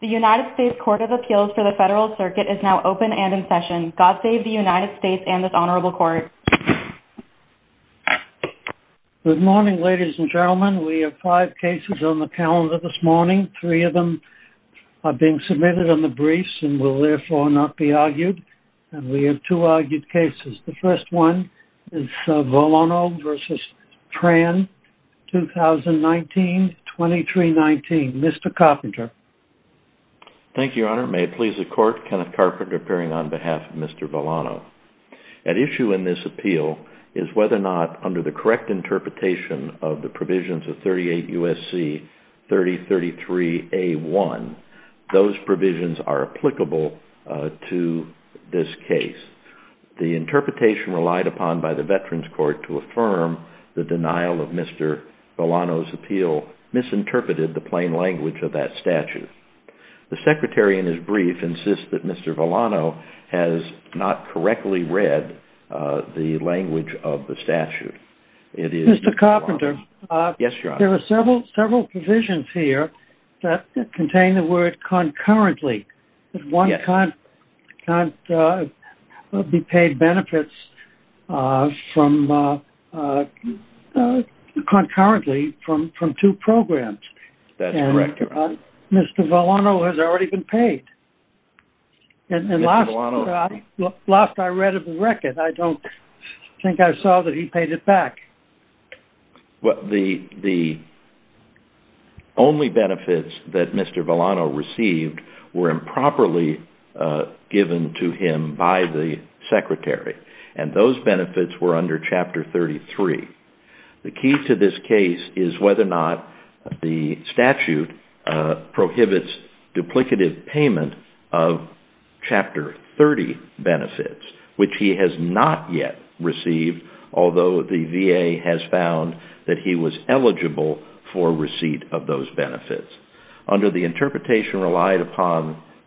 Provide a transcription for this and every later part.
The United States Court of Appeals for the federal circuit is now open and in session God save the United States and this honorable court. Good morning ladies and gentlemen we have five cases on the calendar this morning. Three of them are being submitted on the briefs and will therefore not be argued and we have two argued cases. The first one is тобой vs. Tran 2019 2319. Mr. Carpenter. Thank you your honor may it please the court Kenneth Carpenter appearing on behalf of Mr. Villano. An issue in this appeal is whether or not under the correct interpretation of the provisions of 38 USC 3033 A1 those provisions are applicable to this case. The secretary in his brief insists that Mr. Villano has not correctly read the language of the statute. Mr. Carpenter. Yes your honor. There are several provisions here that contain the word concurrently. One can't be paid benefits from concurrently from from two programs. That's correct your honor. Mr. Villano has already been paid and last I read of the record I don't think I saw that he paid it back. Well the the only benefits that Mr. Villano received were properly given to him by the secretary and those benefits were under chapter 33. The key to this case is whether or not the statute prohibits duplicative payment of chapter 30 benefits which he has not yet received although the VA has found that he was eligible for receipt of those benefits. Under the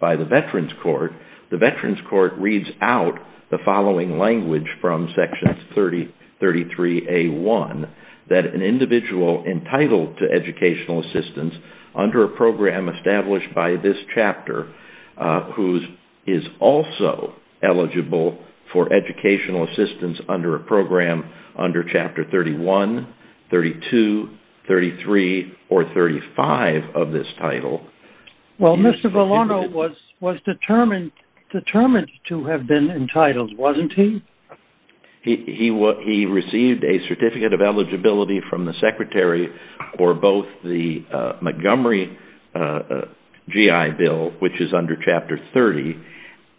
by the Veterans Court the Veterans Court reads out the following language from section 3033 A1 that an individual entitled to educational assistance under a program established by this chapter whose is also eligible for educational assistance under a program under chapter 31 32 33 or 35 of this title. Well Mr. Villano was was determined determined to have been entitled wasn't he? He was he received a certificate of eligibility from the secretary or both the Montgomery GI Bill which is under chapter 30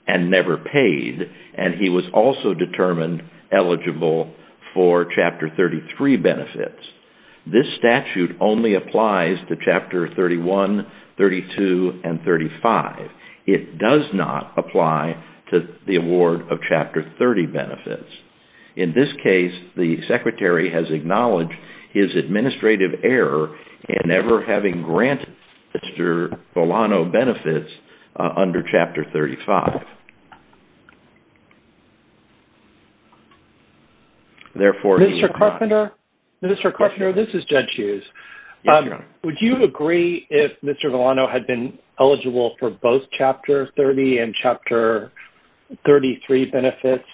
and never paid and he was also determined eligible for chapter 33 benefits. This statute only applies to chapter 35. It does not apply to the award of chapter 30 benefits. In this case the secretary has acknowledged his administrative error and never having granted Mr. Villano benefits under chapter 35. Therefore... Mr. Carpenter Mr. Carpenter this is Judge Hughes. Would you agree if Mr. Villano had been eligible for both chapter 30 and chapter 33 benefits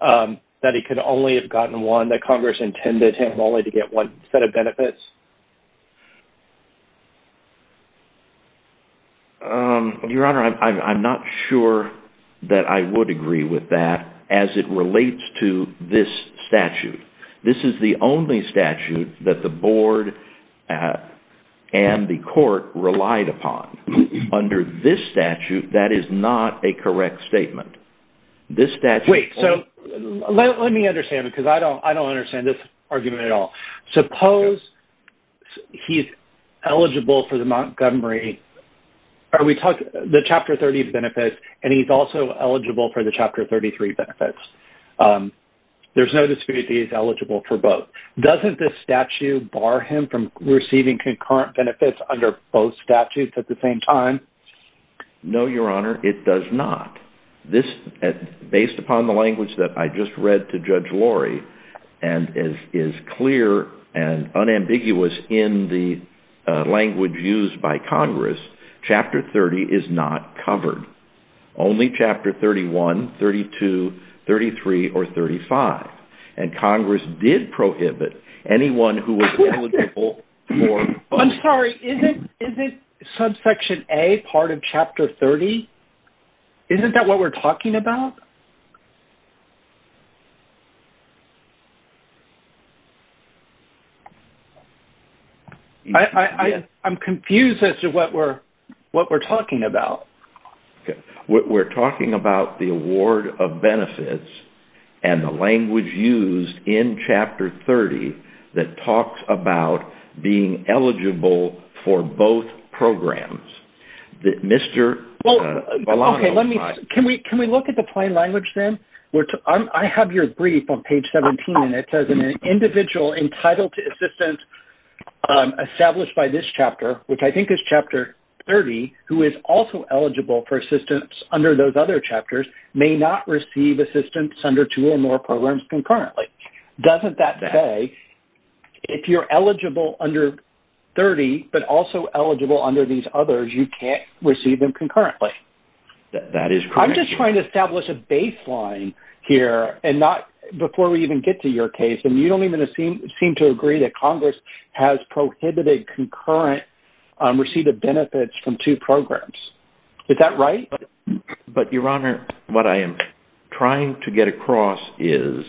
that he could only have gotten one that Congress intended him only to get one set of benefits? Your honor I'm not sure that I would agree with that as it relates to this statute. This is the only statute that the board and the court relied upon. Under this statute that is not a correct statement. This statute... Wait so let me understand because I don't I don't understand this argument at all. Suppose he's eligible for the Montgomery are we talking the chapter 30 benefits and he's also eligible for the chapter 33 benefits. There's no dispute he's eligible for both. Doesn't this statute bar him from receiving concurrent benefits under both statutes at the same time? No your honor it does not. This based upon the language that I just read to Judge Lori and is clear and unambiguous in the only chapter 31, 32, 33, or 35 and Congress did prohibit anyone who was eligible for both. I'm sorry is it subsection a part of chapter 30? Isn't that what we're talking about? I I'm confused as to what we're what we're talking about. We're talking about the award of benefits and the language used in chapter 30 that talks about being eligible for both programs. Mr. Okay let me can we can we look at the language then? I have your brief on page 17 and it says an individual entitled to assistance established by this chapter which I think is chapter 30 who is also eligible for assistance under those other chapters may not receive assistance under two or more programs concurrently. Doesn't that say if you're eligible under 30 but also eligible under these others you can't establish a baseline here and not before we even get to your case and you don't even seem seem to agree that Congress has prohibited concurrent receipt of benefits from two programs. Is that right? But your honor what I am trying to get across is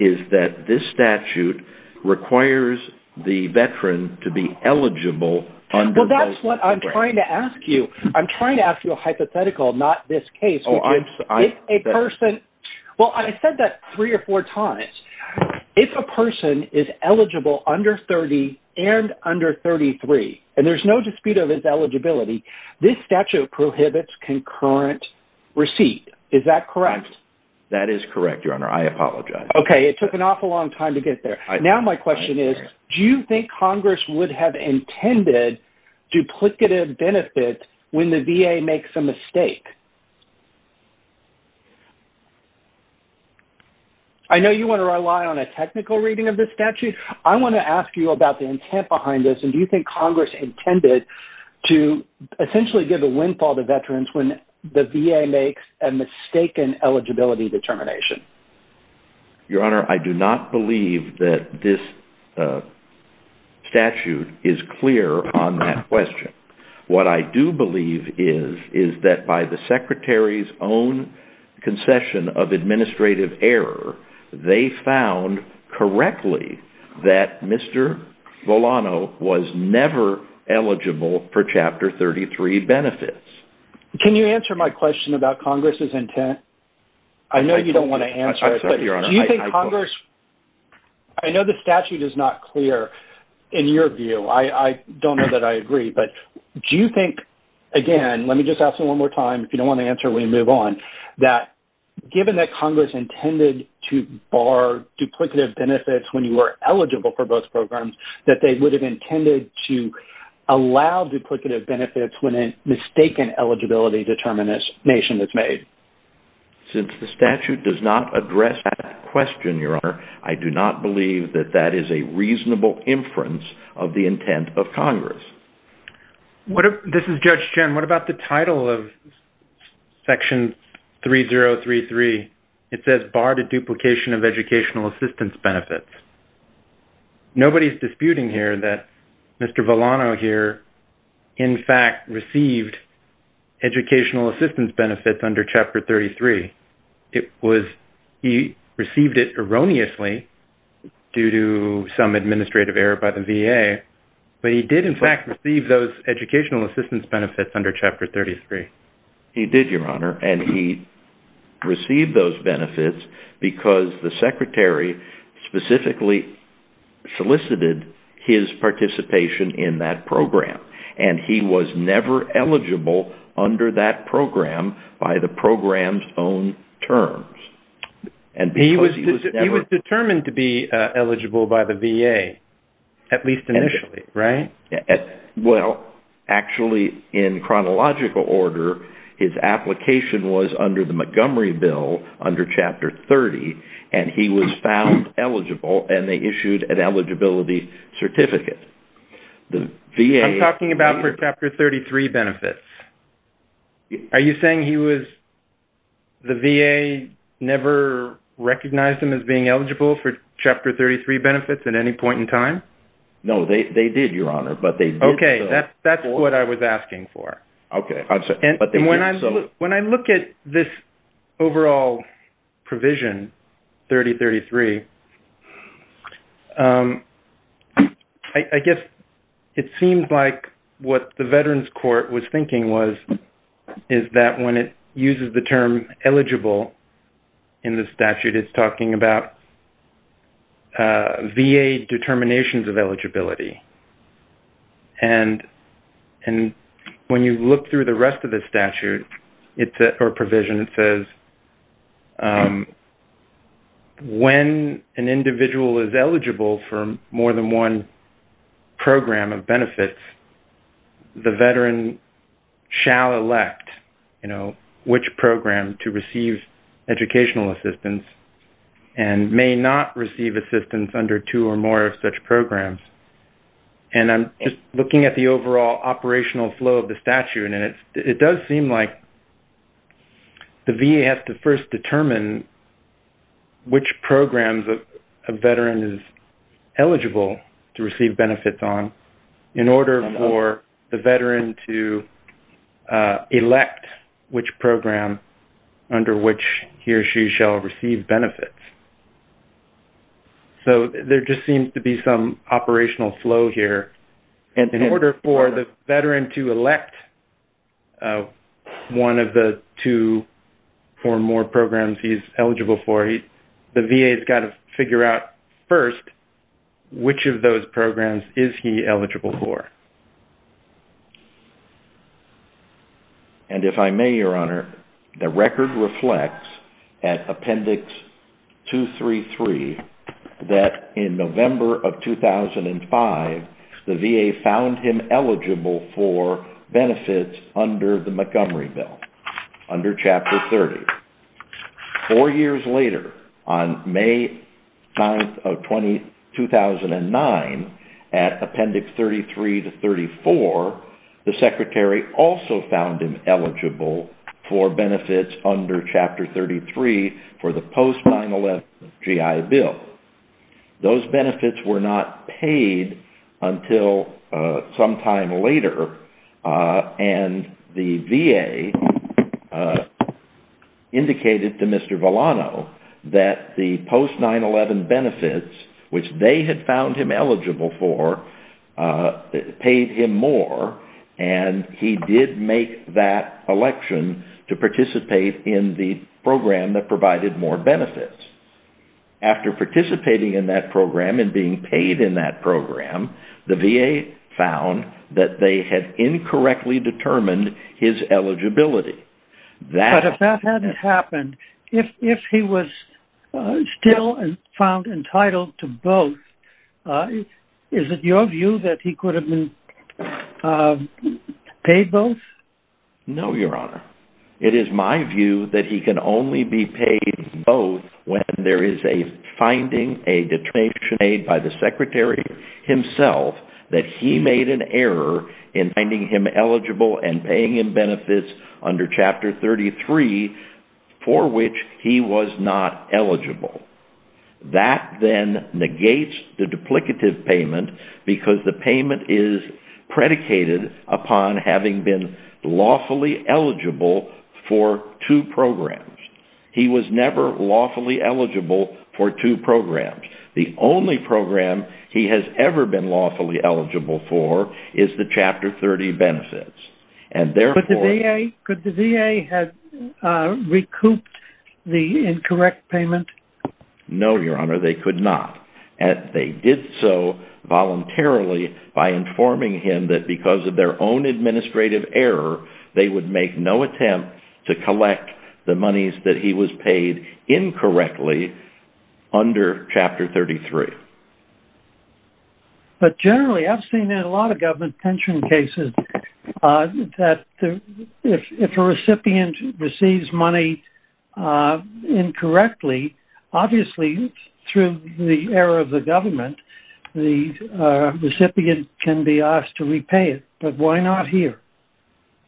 is that this statute requires the veteran to be eligible. Well that's what I'm trying to ask you. I'm trying to ask you a person well I said that three or four times if a person is eligible under 30 and under 33 and there's no dispute of his eligibility this statute prohibits concurrent receipt. Is that correct? That is correct your honor I apologize. Okay it took an awful long time to get there. Now my question is do you think Congress would have intended duplicative benefit when the VA makes a mistake? I know you want to rely on a technical reading of this statute. I want to ask you about the intent behind this and do you think Congress intended to essentially give a windfall to veterans when the VA makes a mistaken eligibility determination? Your clear on that question. What I do believe is is that by the Secretary's own concession of administrative error they found correctly that Mr. Volano was never eligible for chapter 33 benefits. Can you answer my question about Congress's intent? I know you don't want to answer it. I know the statute is not clear in your view. I don't know that I agree but do you think again let me just ask you one more time if you don't want to answer we move on that given that Congress intended to bar duplicative benefits when you were eligible for both programs that they would have intended to allow duplicative benefits when a mistaken eligibility determination is made? Since the statute does not address that question, your honor, I do not believe that that is a reasonable inference of the intent of Congress. This is Judge Chen. What about the title of section 3033? It says barred a duplication of educational assistance benefits. Nobody's disputing here that Mr. Volano here in fact received educational assistance benefits under chapter 33. It was he received it erroneously due to some administrative error by the VA but he did in fact receive those educational assistance benefits under chapter 33. He did, your honor, and he received those benefits because the Secretary specifically solicited his participation in that program and he was never eligible under that program by the program's own terms. He was determined to be eligible by the VA at least initially, right? Well actually in chronological order his application was under the Montgomery bill under chapter 30 and he was found eligible and they issued an eligibility certificate. I'm talking about for chapter 33 benefits. Are you saying he was, the VA never recognized him as being eligible for chapter 33 benefits at any point in time? No, they did, your honor, but they did. Okay, that's what I was asking for. When I look at this overall provision 3033, I guess it seems like what the Veterans Court was thinking was is that when it uses the term eligible in the statute it's talking about VA determinations of eligibility and when you look through the rest of the statute or provision it says when an individual is eligible for more than one program of benefits the veteran shall elect, you know, which program to receive educational assistance and may not receive assistance under two or more of such programs and I'm just looking at the overall operational flow of the statute and it does seem like the VA has to first determine which programs of a veteran is eligible to receive benefits on in order for the veteran to elect which program under which he or she shall receive benefits. So there just seems to be some operational flow here and in order for the veteran to elect one of the two or more programs he's eligible for, the VA has got to figure out first which of those programs is he eligible for. And if I may, your honor, the record reflects at Appendix 233 that in November of 2005 the VA found him eligible for benefits under the Montgomery Bill, under Chapter 30. Four years later on May 9th of 2009 at Appendix 33 to 34 the Secretary also found him eligible for benefits under Chapter 33 for the post 9-11 GI Bill. Those benefits were not paid until sometime later and the VA indicated to Mr. Volano that the post 9-11 benefits which they had found him eligible for paid him more and he did make that election to participate in the program that provided more benefits. After participating in that program and being paid in that program, the VA found that they had incorrectly determined his eligibility. But if that hadn't happened, if he was still found entitled to both, is it your view that he could have been paid both? No, your honor. It is my view that he can only be paid both when there is a finding, a determination made by the Secretary himself that he made an error in finding him eligible and paying him benefits under Chapter 33 for which he was not eligible. That then negates the duplicative payment because the payment is predicated upon having been lawfully eligible for two programs. He was never lawfully eligible for two programs. The only program he has ever been lawfully eligible for is the Chapter 30 benefits. Could the VA have recouped the incorrect payment? No, your honor. They could not and they did so voluntarily by informing him that because of their own administrative error, they would make no attempt to collect the monies that he was paid incorrectly under Chapter 33. But generally, I've seen in a lot of government pension cases that if a recipient receives money incorrectly, obviously through the error of the Secretary, he can be asked to repay it. But why not here?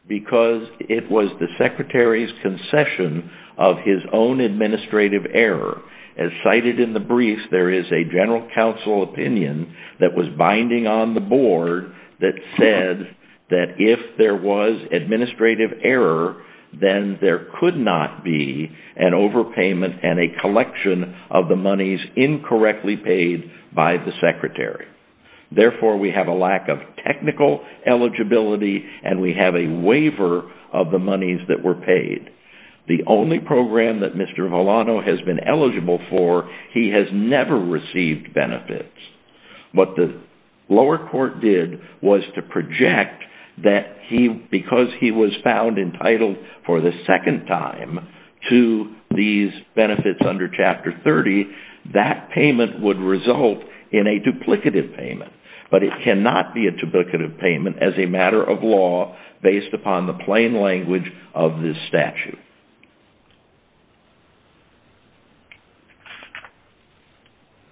Because it was the Secretary's concession of his own administrative error. As cited in the brief, there is a general counsel opinion that was binding on the board that said that if there was administrative error, then there could not be an overpayment and a collection of the monies incorrectly paid by the Secretary. Therefore, we have a lack of technical eligibility and we have a waiver of the monies that were paid. The only program that Mr. Volano has been eligible for, he has never received benefits. What the lower court did was to project that because he was found guilty under Chapter 33, that payment would result in a duplicative payment. But it cannot be a duplicative payment as a matter of law based upon the plain language of this statute.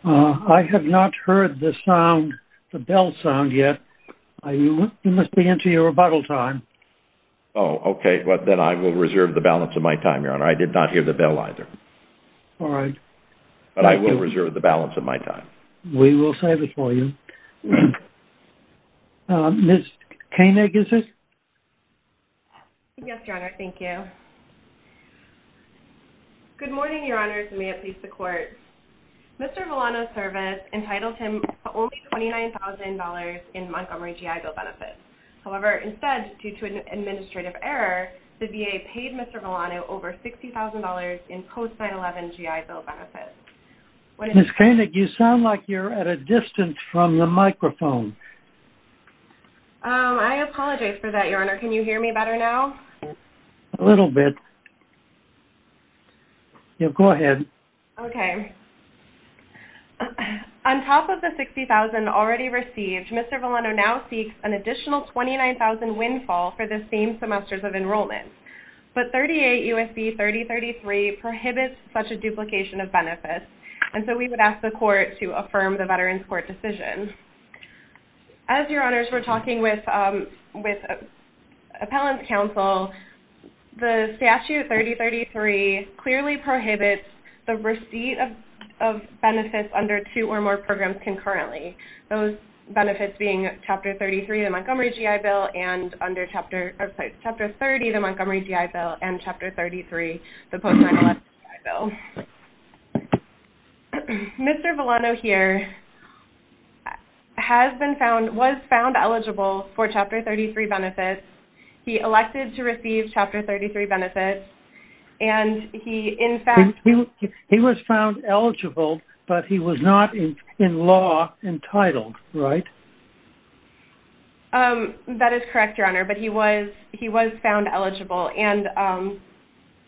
I have not heard the sound, the bell sound yet. You must be into your rebuttal time. Oh, okay. Well, then I will reserve the balance of my time, Your Honor. I did not hear the bell either. All right. But I will reserve the balance of my time. We will save it for you. Ms. Koenig, is it? Yes, Your Honor. Thank you. Good morning, Your Honors. May it please the Court. Mr. Volano's service entitled him to only $29,000 in Montgomery GI Bill benefits. However, instead, due to an administrative error, the VA paid Mr. Volano over $60,000 in post 9-11 GI Bill benefits. Ms. Koenig, you sound like you're at a distance from the microphone. I apologize for that, Your Honor. Can you hear me better now? A little bit. Go ahead. Okay. On top of the $60,000 already received, Mr. Volano now seeks an additional $29,000 in windfall for the same semesters of enrollment. But 38 U.S.B. 3033 prohibits such a duplication of benefits, and so we would ask the Court to affirm the Veterans Court decision. As Your Honors were talking with Appellant's Counsel, the Statute 3033 clearly prohibits the receipt of benefits under two or more programs concurrently, those benefits being Chapter 33 of the Montgomery GI Bill and Chapter 33 of the post 9-11 GI Bill. Mr. Volano here was found eligible for Chapter 33 benefits. He elected to receive Chapter 33 benefits, and he in fact... He was found eligible, but he was not in law entitled, right? That is correct, Your Honor, but he was found eligible, and...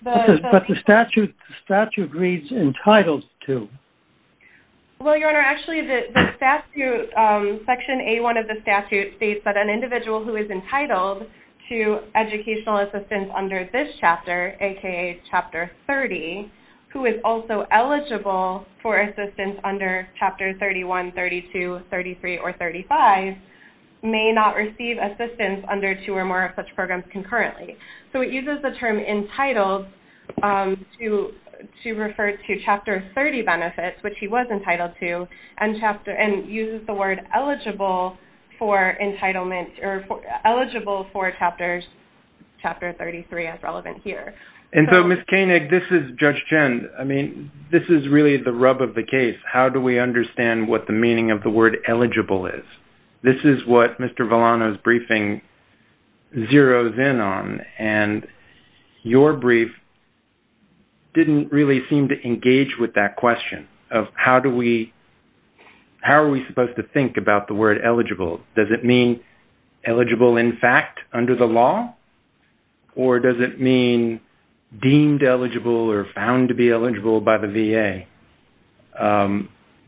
But the statute reads entitled to. Well, Your Honor, actually the statute, Section A1 of the statute states that an individual who is entitled to educational assistance under this chapter, aka Chapter 30, who is also eligible for Chapter 31, 32, 33, or 35, may not receive assistance under two or more of such programs concurrently. So it uses the term entitled to refer to Chapter 30 benefits, which he was entitled to, and uses the word eligible for entitlement, or eligible for Chapter 33 as relevant here. And so, Ms. Koenig, this is Judge Chen. I mean, this is really the rub of the case. How do we understand what the meaning of the word eligible is? This is what Mr. Volano's briefing zeroes in on, and your brief didn't really seem to engage with that question of how do we... How are we supposed to think about the word eligible? Does it mean eligible in fact under the law, or does it mean deemed eligible or found to be eligible by the VA?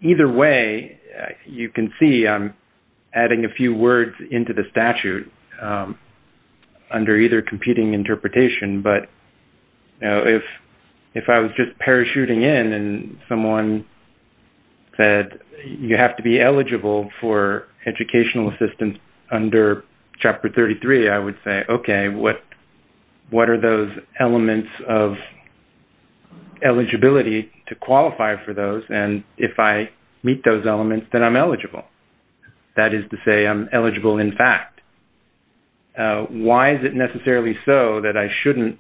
Either way, you can see I'm adding a few words into the statute under either competing interpretation, but if I was just parachuting in and someone said you have to be eligible for educational assistance under Chapter 33, I would say, okay, what are those elements of eligibility to qualify for those? And if I meet those elements, then I'm eligible. That is to say, I'm eligible in fact. Why is it necessarily so that I shouldn't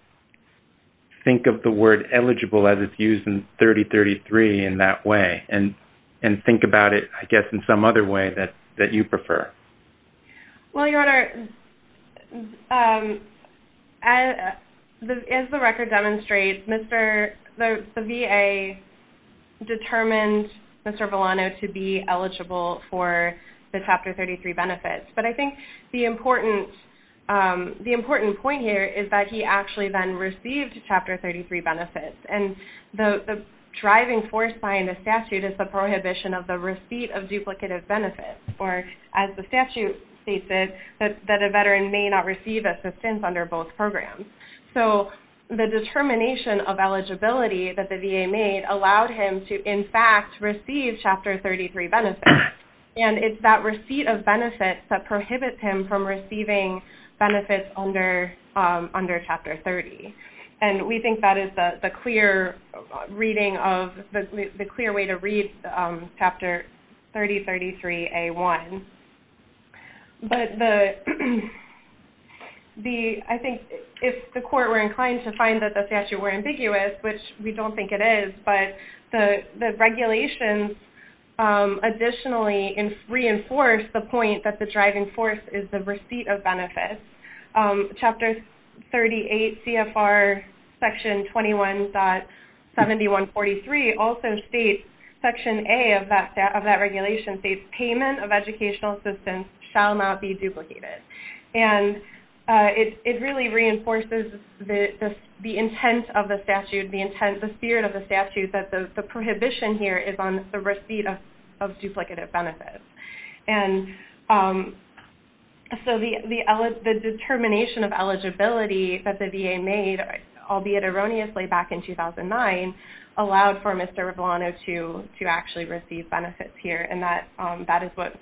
think of the word eligible as it's used in 3033 in that way, and think about it, I guess, in some other way that you prefer? Well, Your Honor, as the record demonstrates, the VA determined Mr. Volano to be eligible for the Chapter 33 benefits, but I think the important point here is that he actually then received Chapter 33 benefits, and the driving force behind the statute is the prohibition of the receipt of duplicative benefits, or as the statute states it, that a veteran may not receive assistance under both programs. So the determination of eligibility that the VA made allowed him to, in fact, receive Chapter 33 benefits, and it's that receipt of benefits that prohibits him from receiving benefits under Chapter 30, and we think that is the clear reading of, the clear way to read Chapter 3033A1. But the, I think, if the court were inclined to find that the statute were ambiguous, which we don't think it is, but the regulations additionally reinforce the point that the driving force is the receipt of benefits. Chapter 38 CFR Section 21.7143 also states, Section A of that regulation states, payment of educational assistance shall not be duplicated, and it really reinforces the intent of the statute, the spirit of the statute, that the So the determination of eligibility that the VA made, albeit erroneously, back in 2009, allowed for Mr. Ravlano to actually receive benefits here, and that is what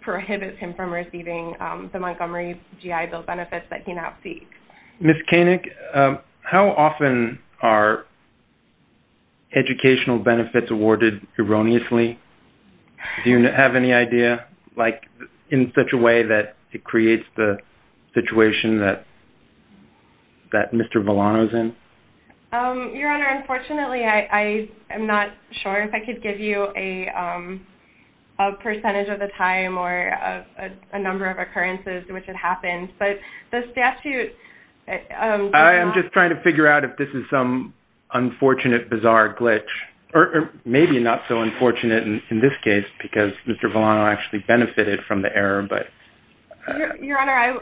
prohibits him from receiving the Montgomery GI Bill benefits that he now seeks. Ms. Koenig, how often are educational benefits awarded erroneously? Do you have any idea, like, in such a way that it creates the situation that that Mr. Ravlano is in? Your Honor, unfortunately, I am not sure if I could give you a percentage of the time or a number of occurrences in which it happens, but the statute... I'm just trying to figure out if this is some unfortunate, bizarre glitch, or maybe not so unfortunate in this case, because Mr. Ravlano actually benefited from the error, but... Your Honor,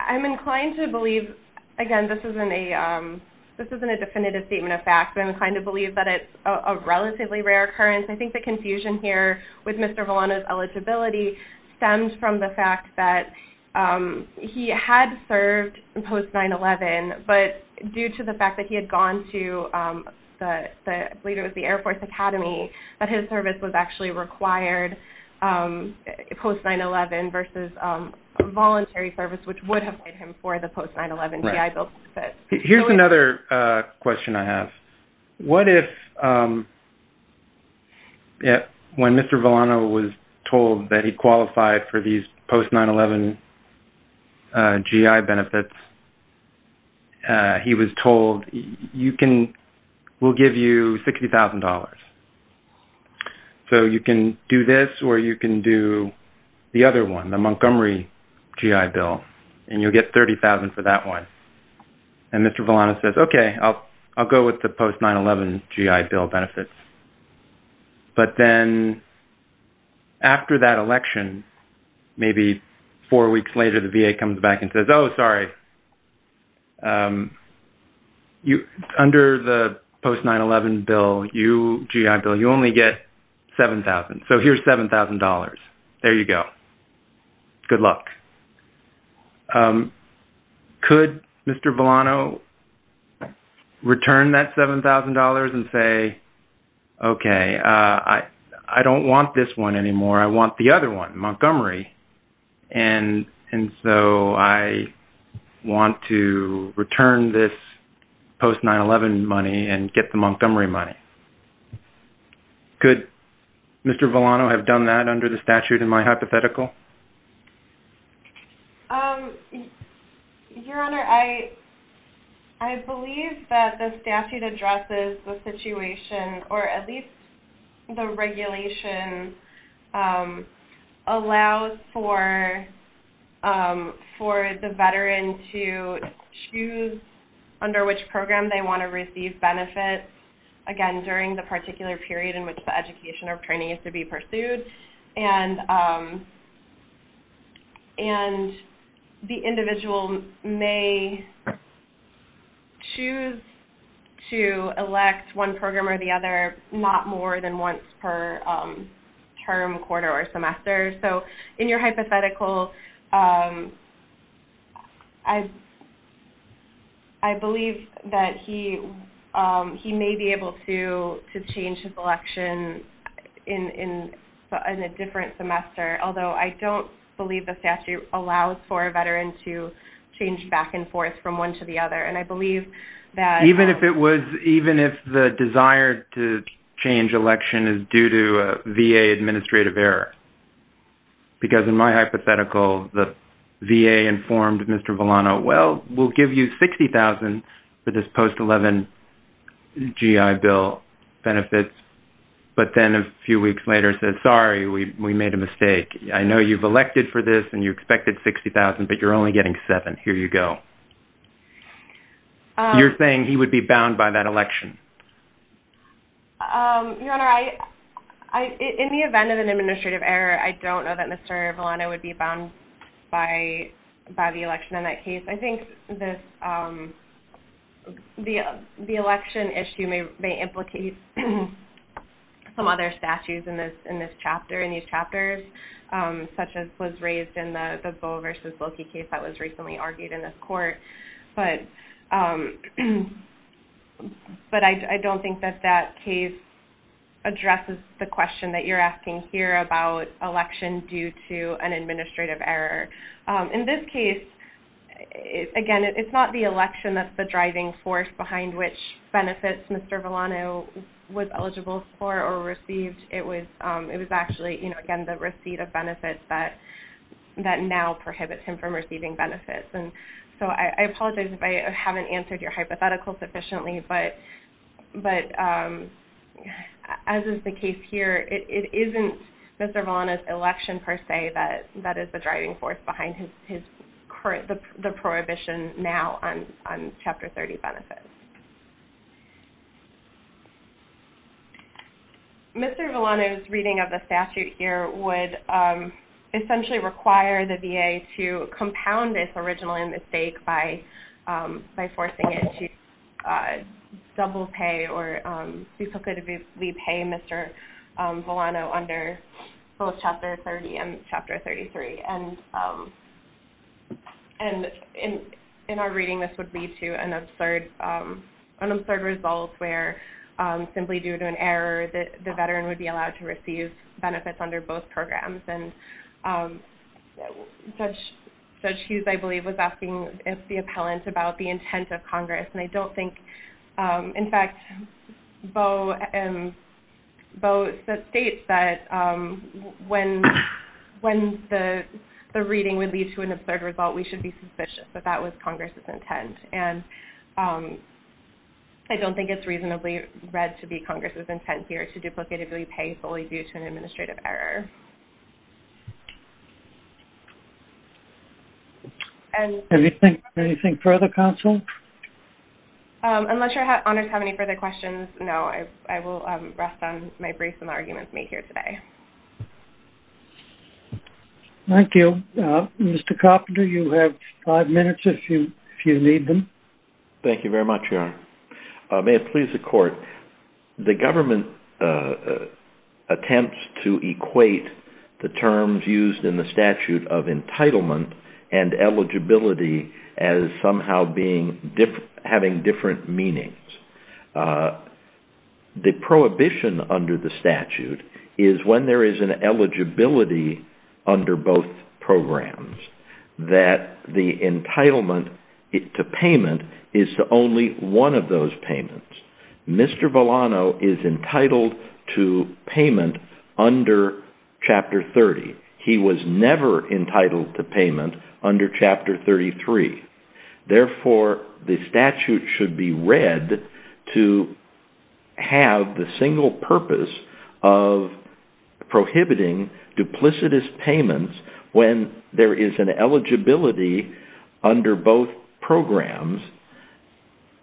I'm inclined to believe, again, this isn't a definitive statement of fact, but I'm inclined to believe that it's a relatively rare occurrence. I think the confusion here with Mr. Ravlano's eligibility stems from the fact that he had served in post 9-11, but due to the fact that he had gone to the, I believe it was the Air Force Academy, that his service was actually required post 9-11 versus voluntary service, which would have paid him for the post 9-11 GI Bill benefits. Here's another question I have. What if, when Mr. Ravlano was told that he qualified for these post 9-11 GI benefits, he was told, we'll give you $60,000, so you can do this or you can do the other one, the Montgomery GI Bill, and you'll get $30,000 for that one, and Mr. Ravlano says, okay, I'll go with the post 9-11 GI Bill benefits, but then after that election, maybe four weeks later, the VA comes back and says, oh, sorry, under the post 9-11 GI Bill, you only get $7,000, so here's $7,000. There you go. Good luck. Could Mr. Ravlano return that $7,000 and say, okay, I don't want this one anymore, I want the other one, Montgomery, and so I want to return this post 9-11 money and get the Montgomery money? Could Mr. Ravlano have done that under the statute in my hypothetical? Your Honor, I believe that the statute addresses the situation, or at least the regulation allows for the veteran to choose under which program they want to receive benefits, again, during the election, and the individual may choose to elect one program or the other not more than once per term, quarter, or semester, so in your hypothetical, I believe that he may be able to change his election in a different semester, although I don't believe the statute allows for a veteran to change back and forth from one to the other, and I believe that... Even if it was, even if the desire to change election is due to a VA administrative error, because in my hypothetical, the VA informed Mr. Ravlano, well, we'll give you $60,000 for this then a few weeks later said, sorry, we made a mistake. I know you've elected for this and you expected $60,000, but you're only getting $7,000. Here you go. You're saying he would be bound by that election? Your Honor, in the event of an administrative error, I don't know that Mr. Ravlano would be bound by the election in that case. I think the election issue may implicate other statutes in this chapter, in these chapters, such as was raised in the Boe versus Loki case that was recently argued in this court, but I don't think that that case addresses the question that you're asking here about election due to an administrative error. In this case, again, it's not the election that's the driving force behind which benefits Mr. Ravlano was eligible for or received. It was actually, again, the receipt of benefits that now prohibits him from receiving benefits. I apologize if I haven't answered your hypothetical sufficiently, but as is the case here, it isn't Mr. Ravlano's election per se that is the driving force behind the prohibition now on Chapter 30 benefits. Mr. Ravlano's reading of the statute here would essentially require the VA to compound this original mistake by forcing it to double pay or recalculatively pay Mr. Ravlano under both Chapter 30 and Chapter 33. In our reading, this would lead to an absurd result where simply due to an error, the veteran would be allowed to receive benefits under both programs. Judge Hughes, I believe, was asking the appellant about the intent of Congress. I don't think, in fact, Bo states that when the reading would lead to an absurd result, we should be suspicious that that was Congress's intent. I don't think it's reasonably read to be Congress's intent here to duplicatively pay solely due to an administrative error. Anything further, counsel? Unless your honors have any further questions, no. I will rest on my briefs and arguments made here today. Thank you. Mr. Coffin, do you have five minutes if you need them? Thank you very much, Your Honor. May it please the court, the government attempts to equate the terms used in the statute of entitlement and eligibility as somehow having different meanings. The prohibition under the statute is when there is an eligibility under both programs that the entitlement to payment is to only one of those payments. Mr. Ravlano is entitled to payment under Chapter 30. He was never entitled to payment under Chapter 33. Therefore, the statute should be read to have the single purpose of prohibiting duplicitous payments when there is an eligibility under both programs,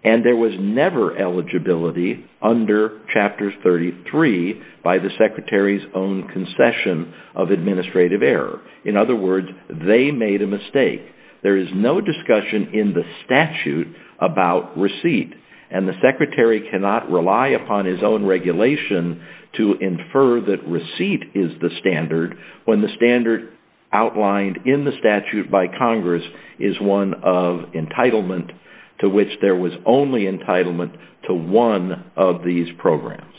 and there was never eligibility under Chapter 33 by the Secretary's own concession of administrative error. In other words, they made a mistake. There is no discussion in the statute about receipt, and the Secretary cannot rely upon his own regulation to infer that receipt is the standard when the standard outlined in the statute by Congress is one of entitlement to which there was only entitlement to one of these programs.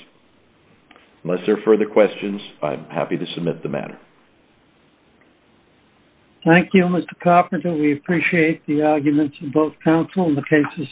Unless there are further questions, I'm happy to submit the matter. Thank you, Mr. Carpenter. We appreciate the arguments of both counsel and the cases submitted.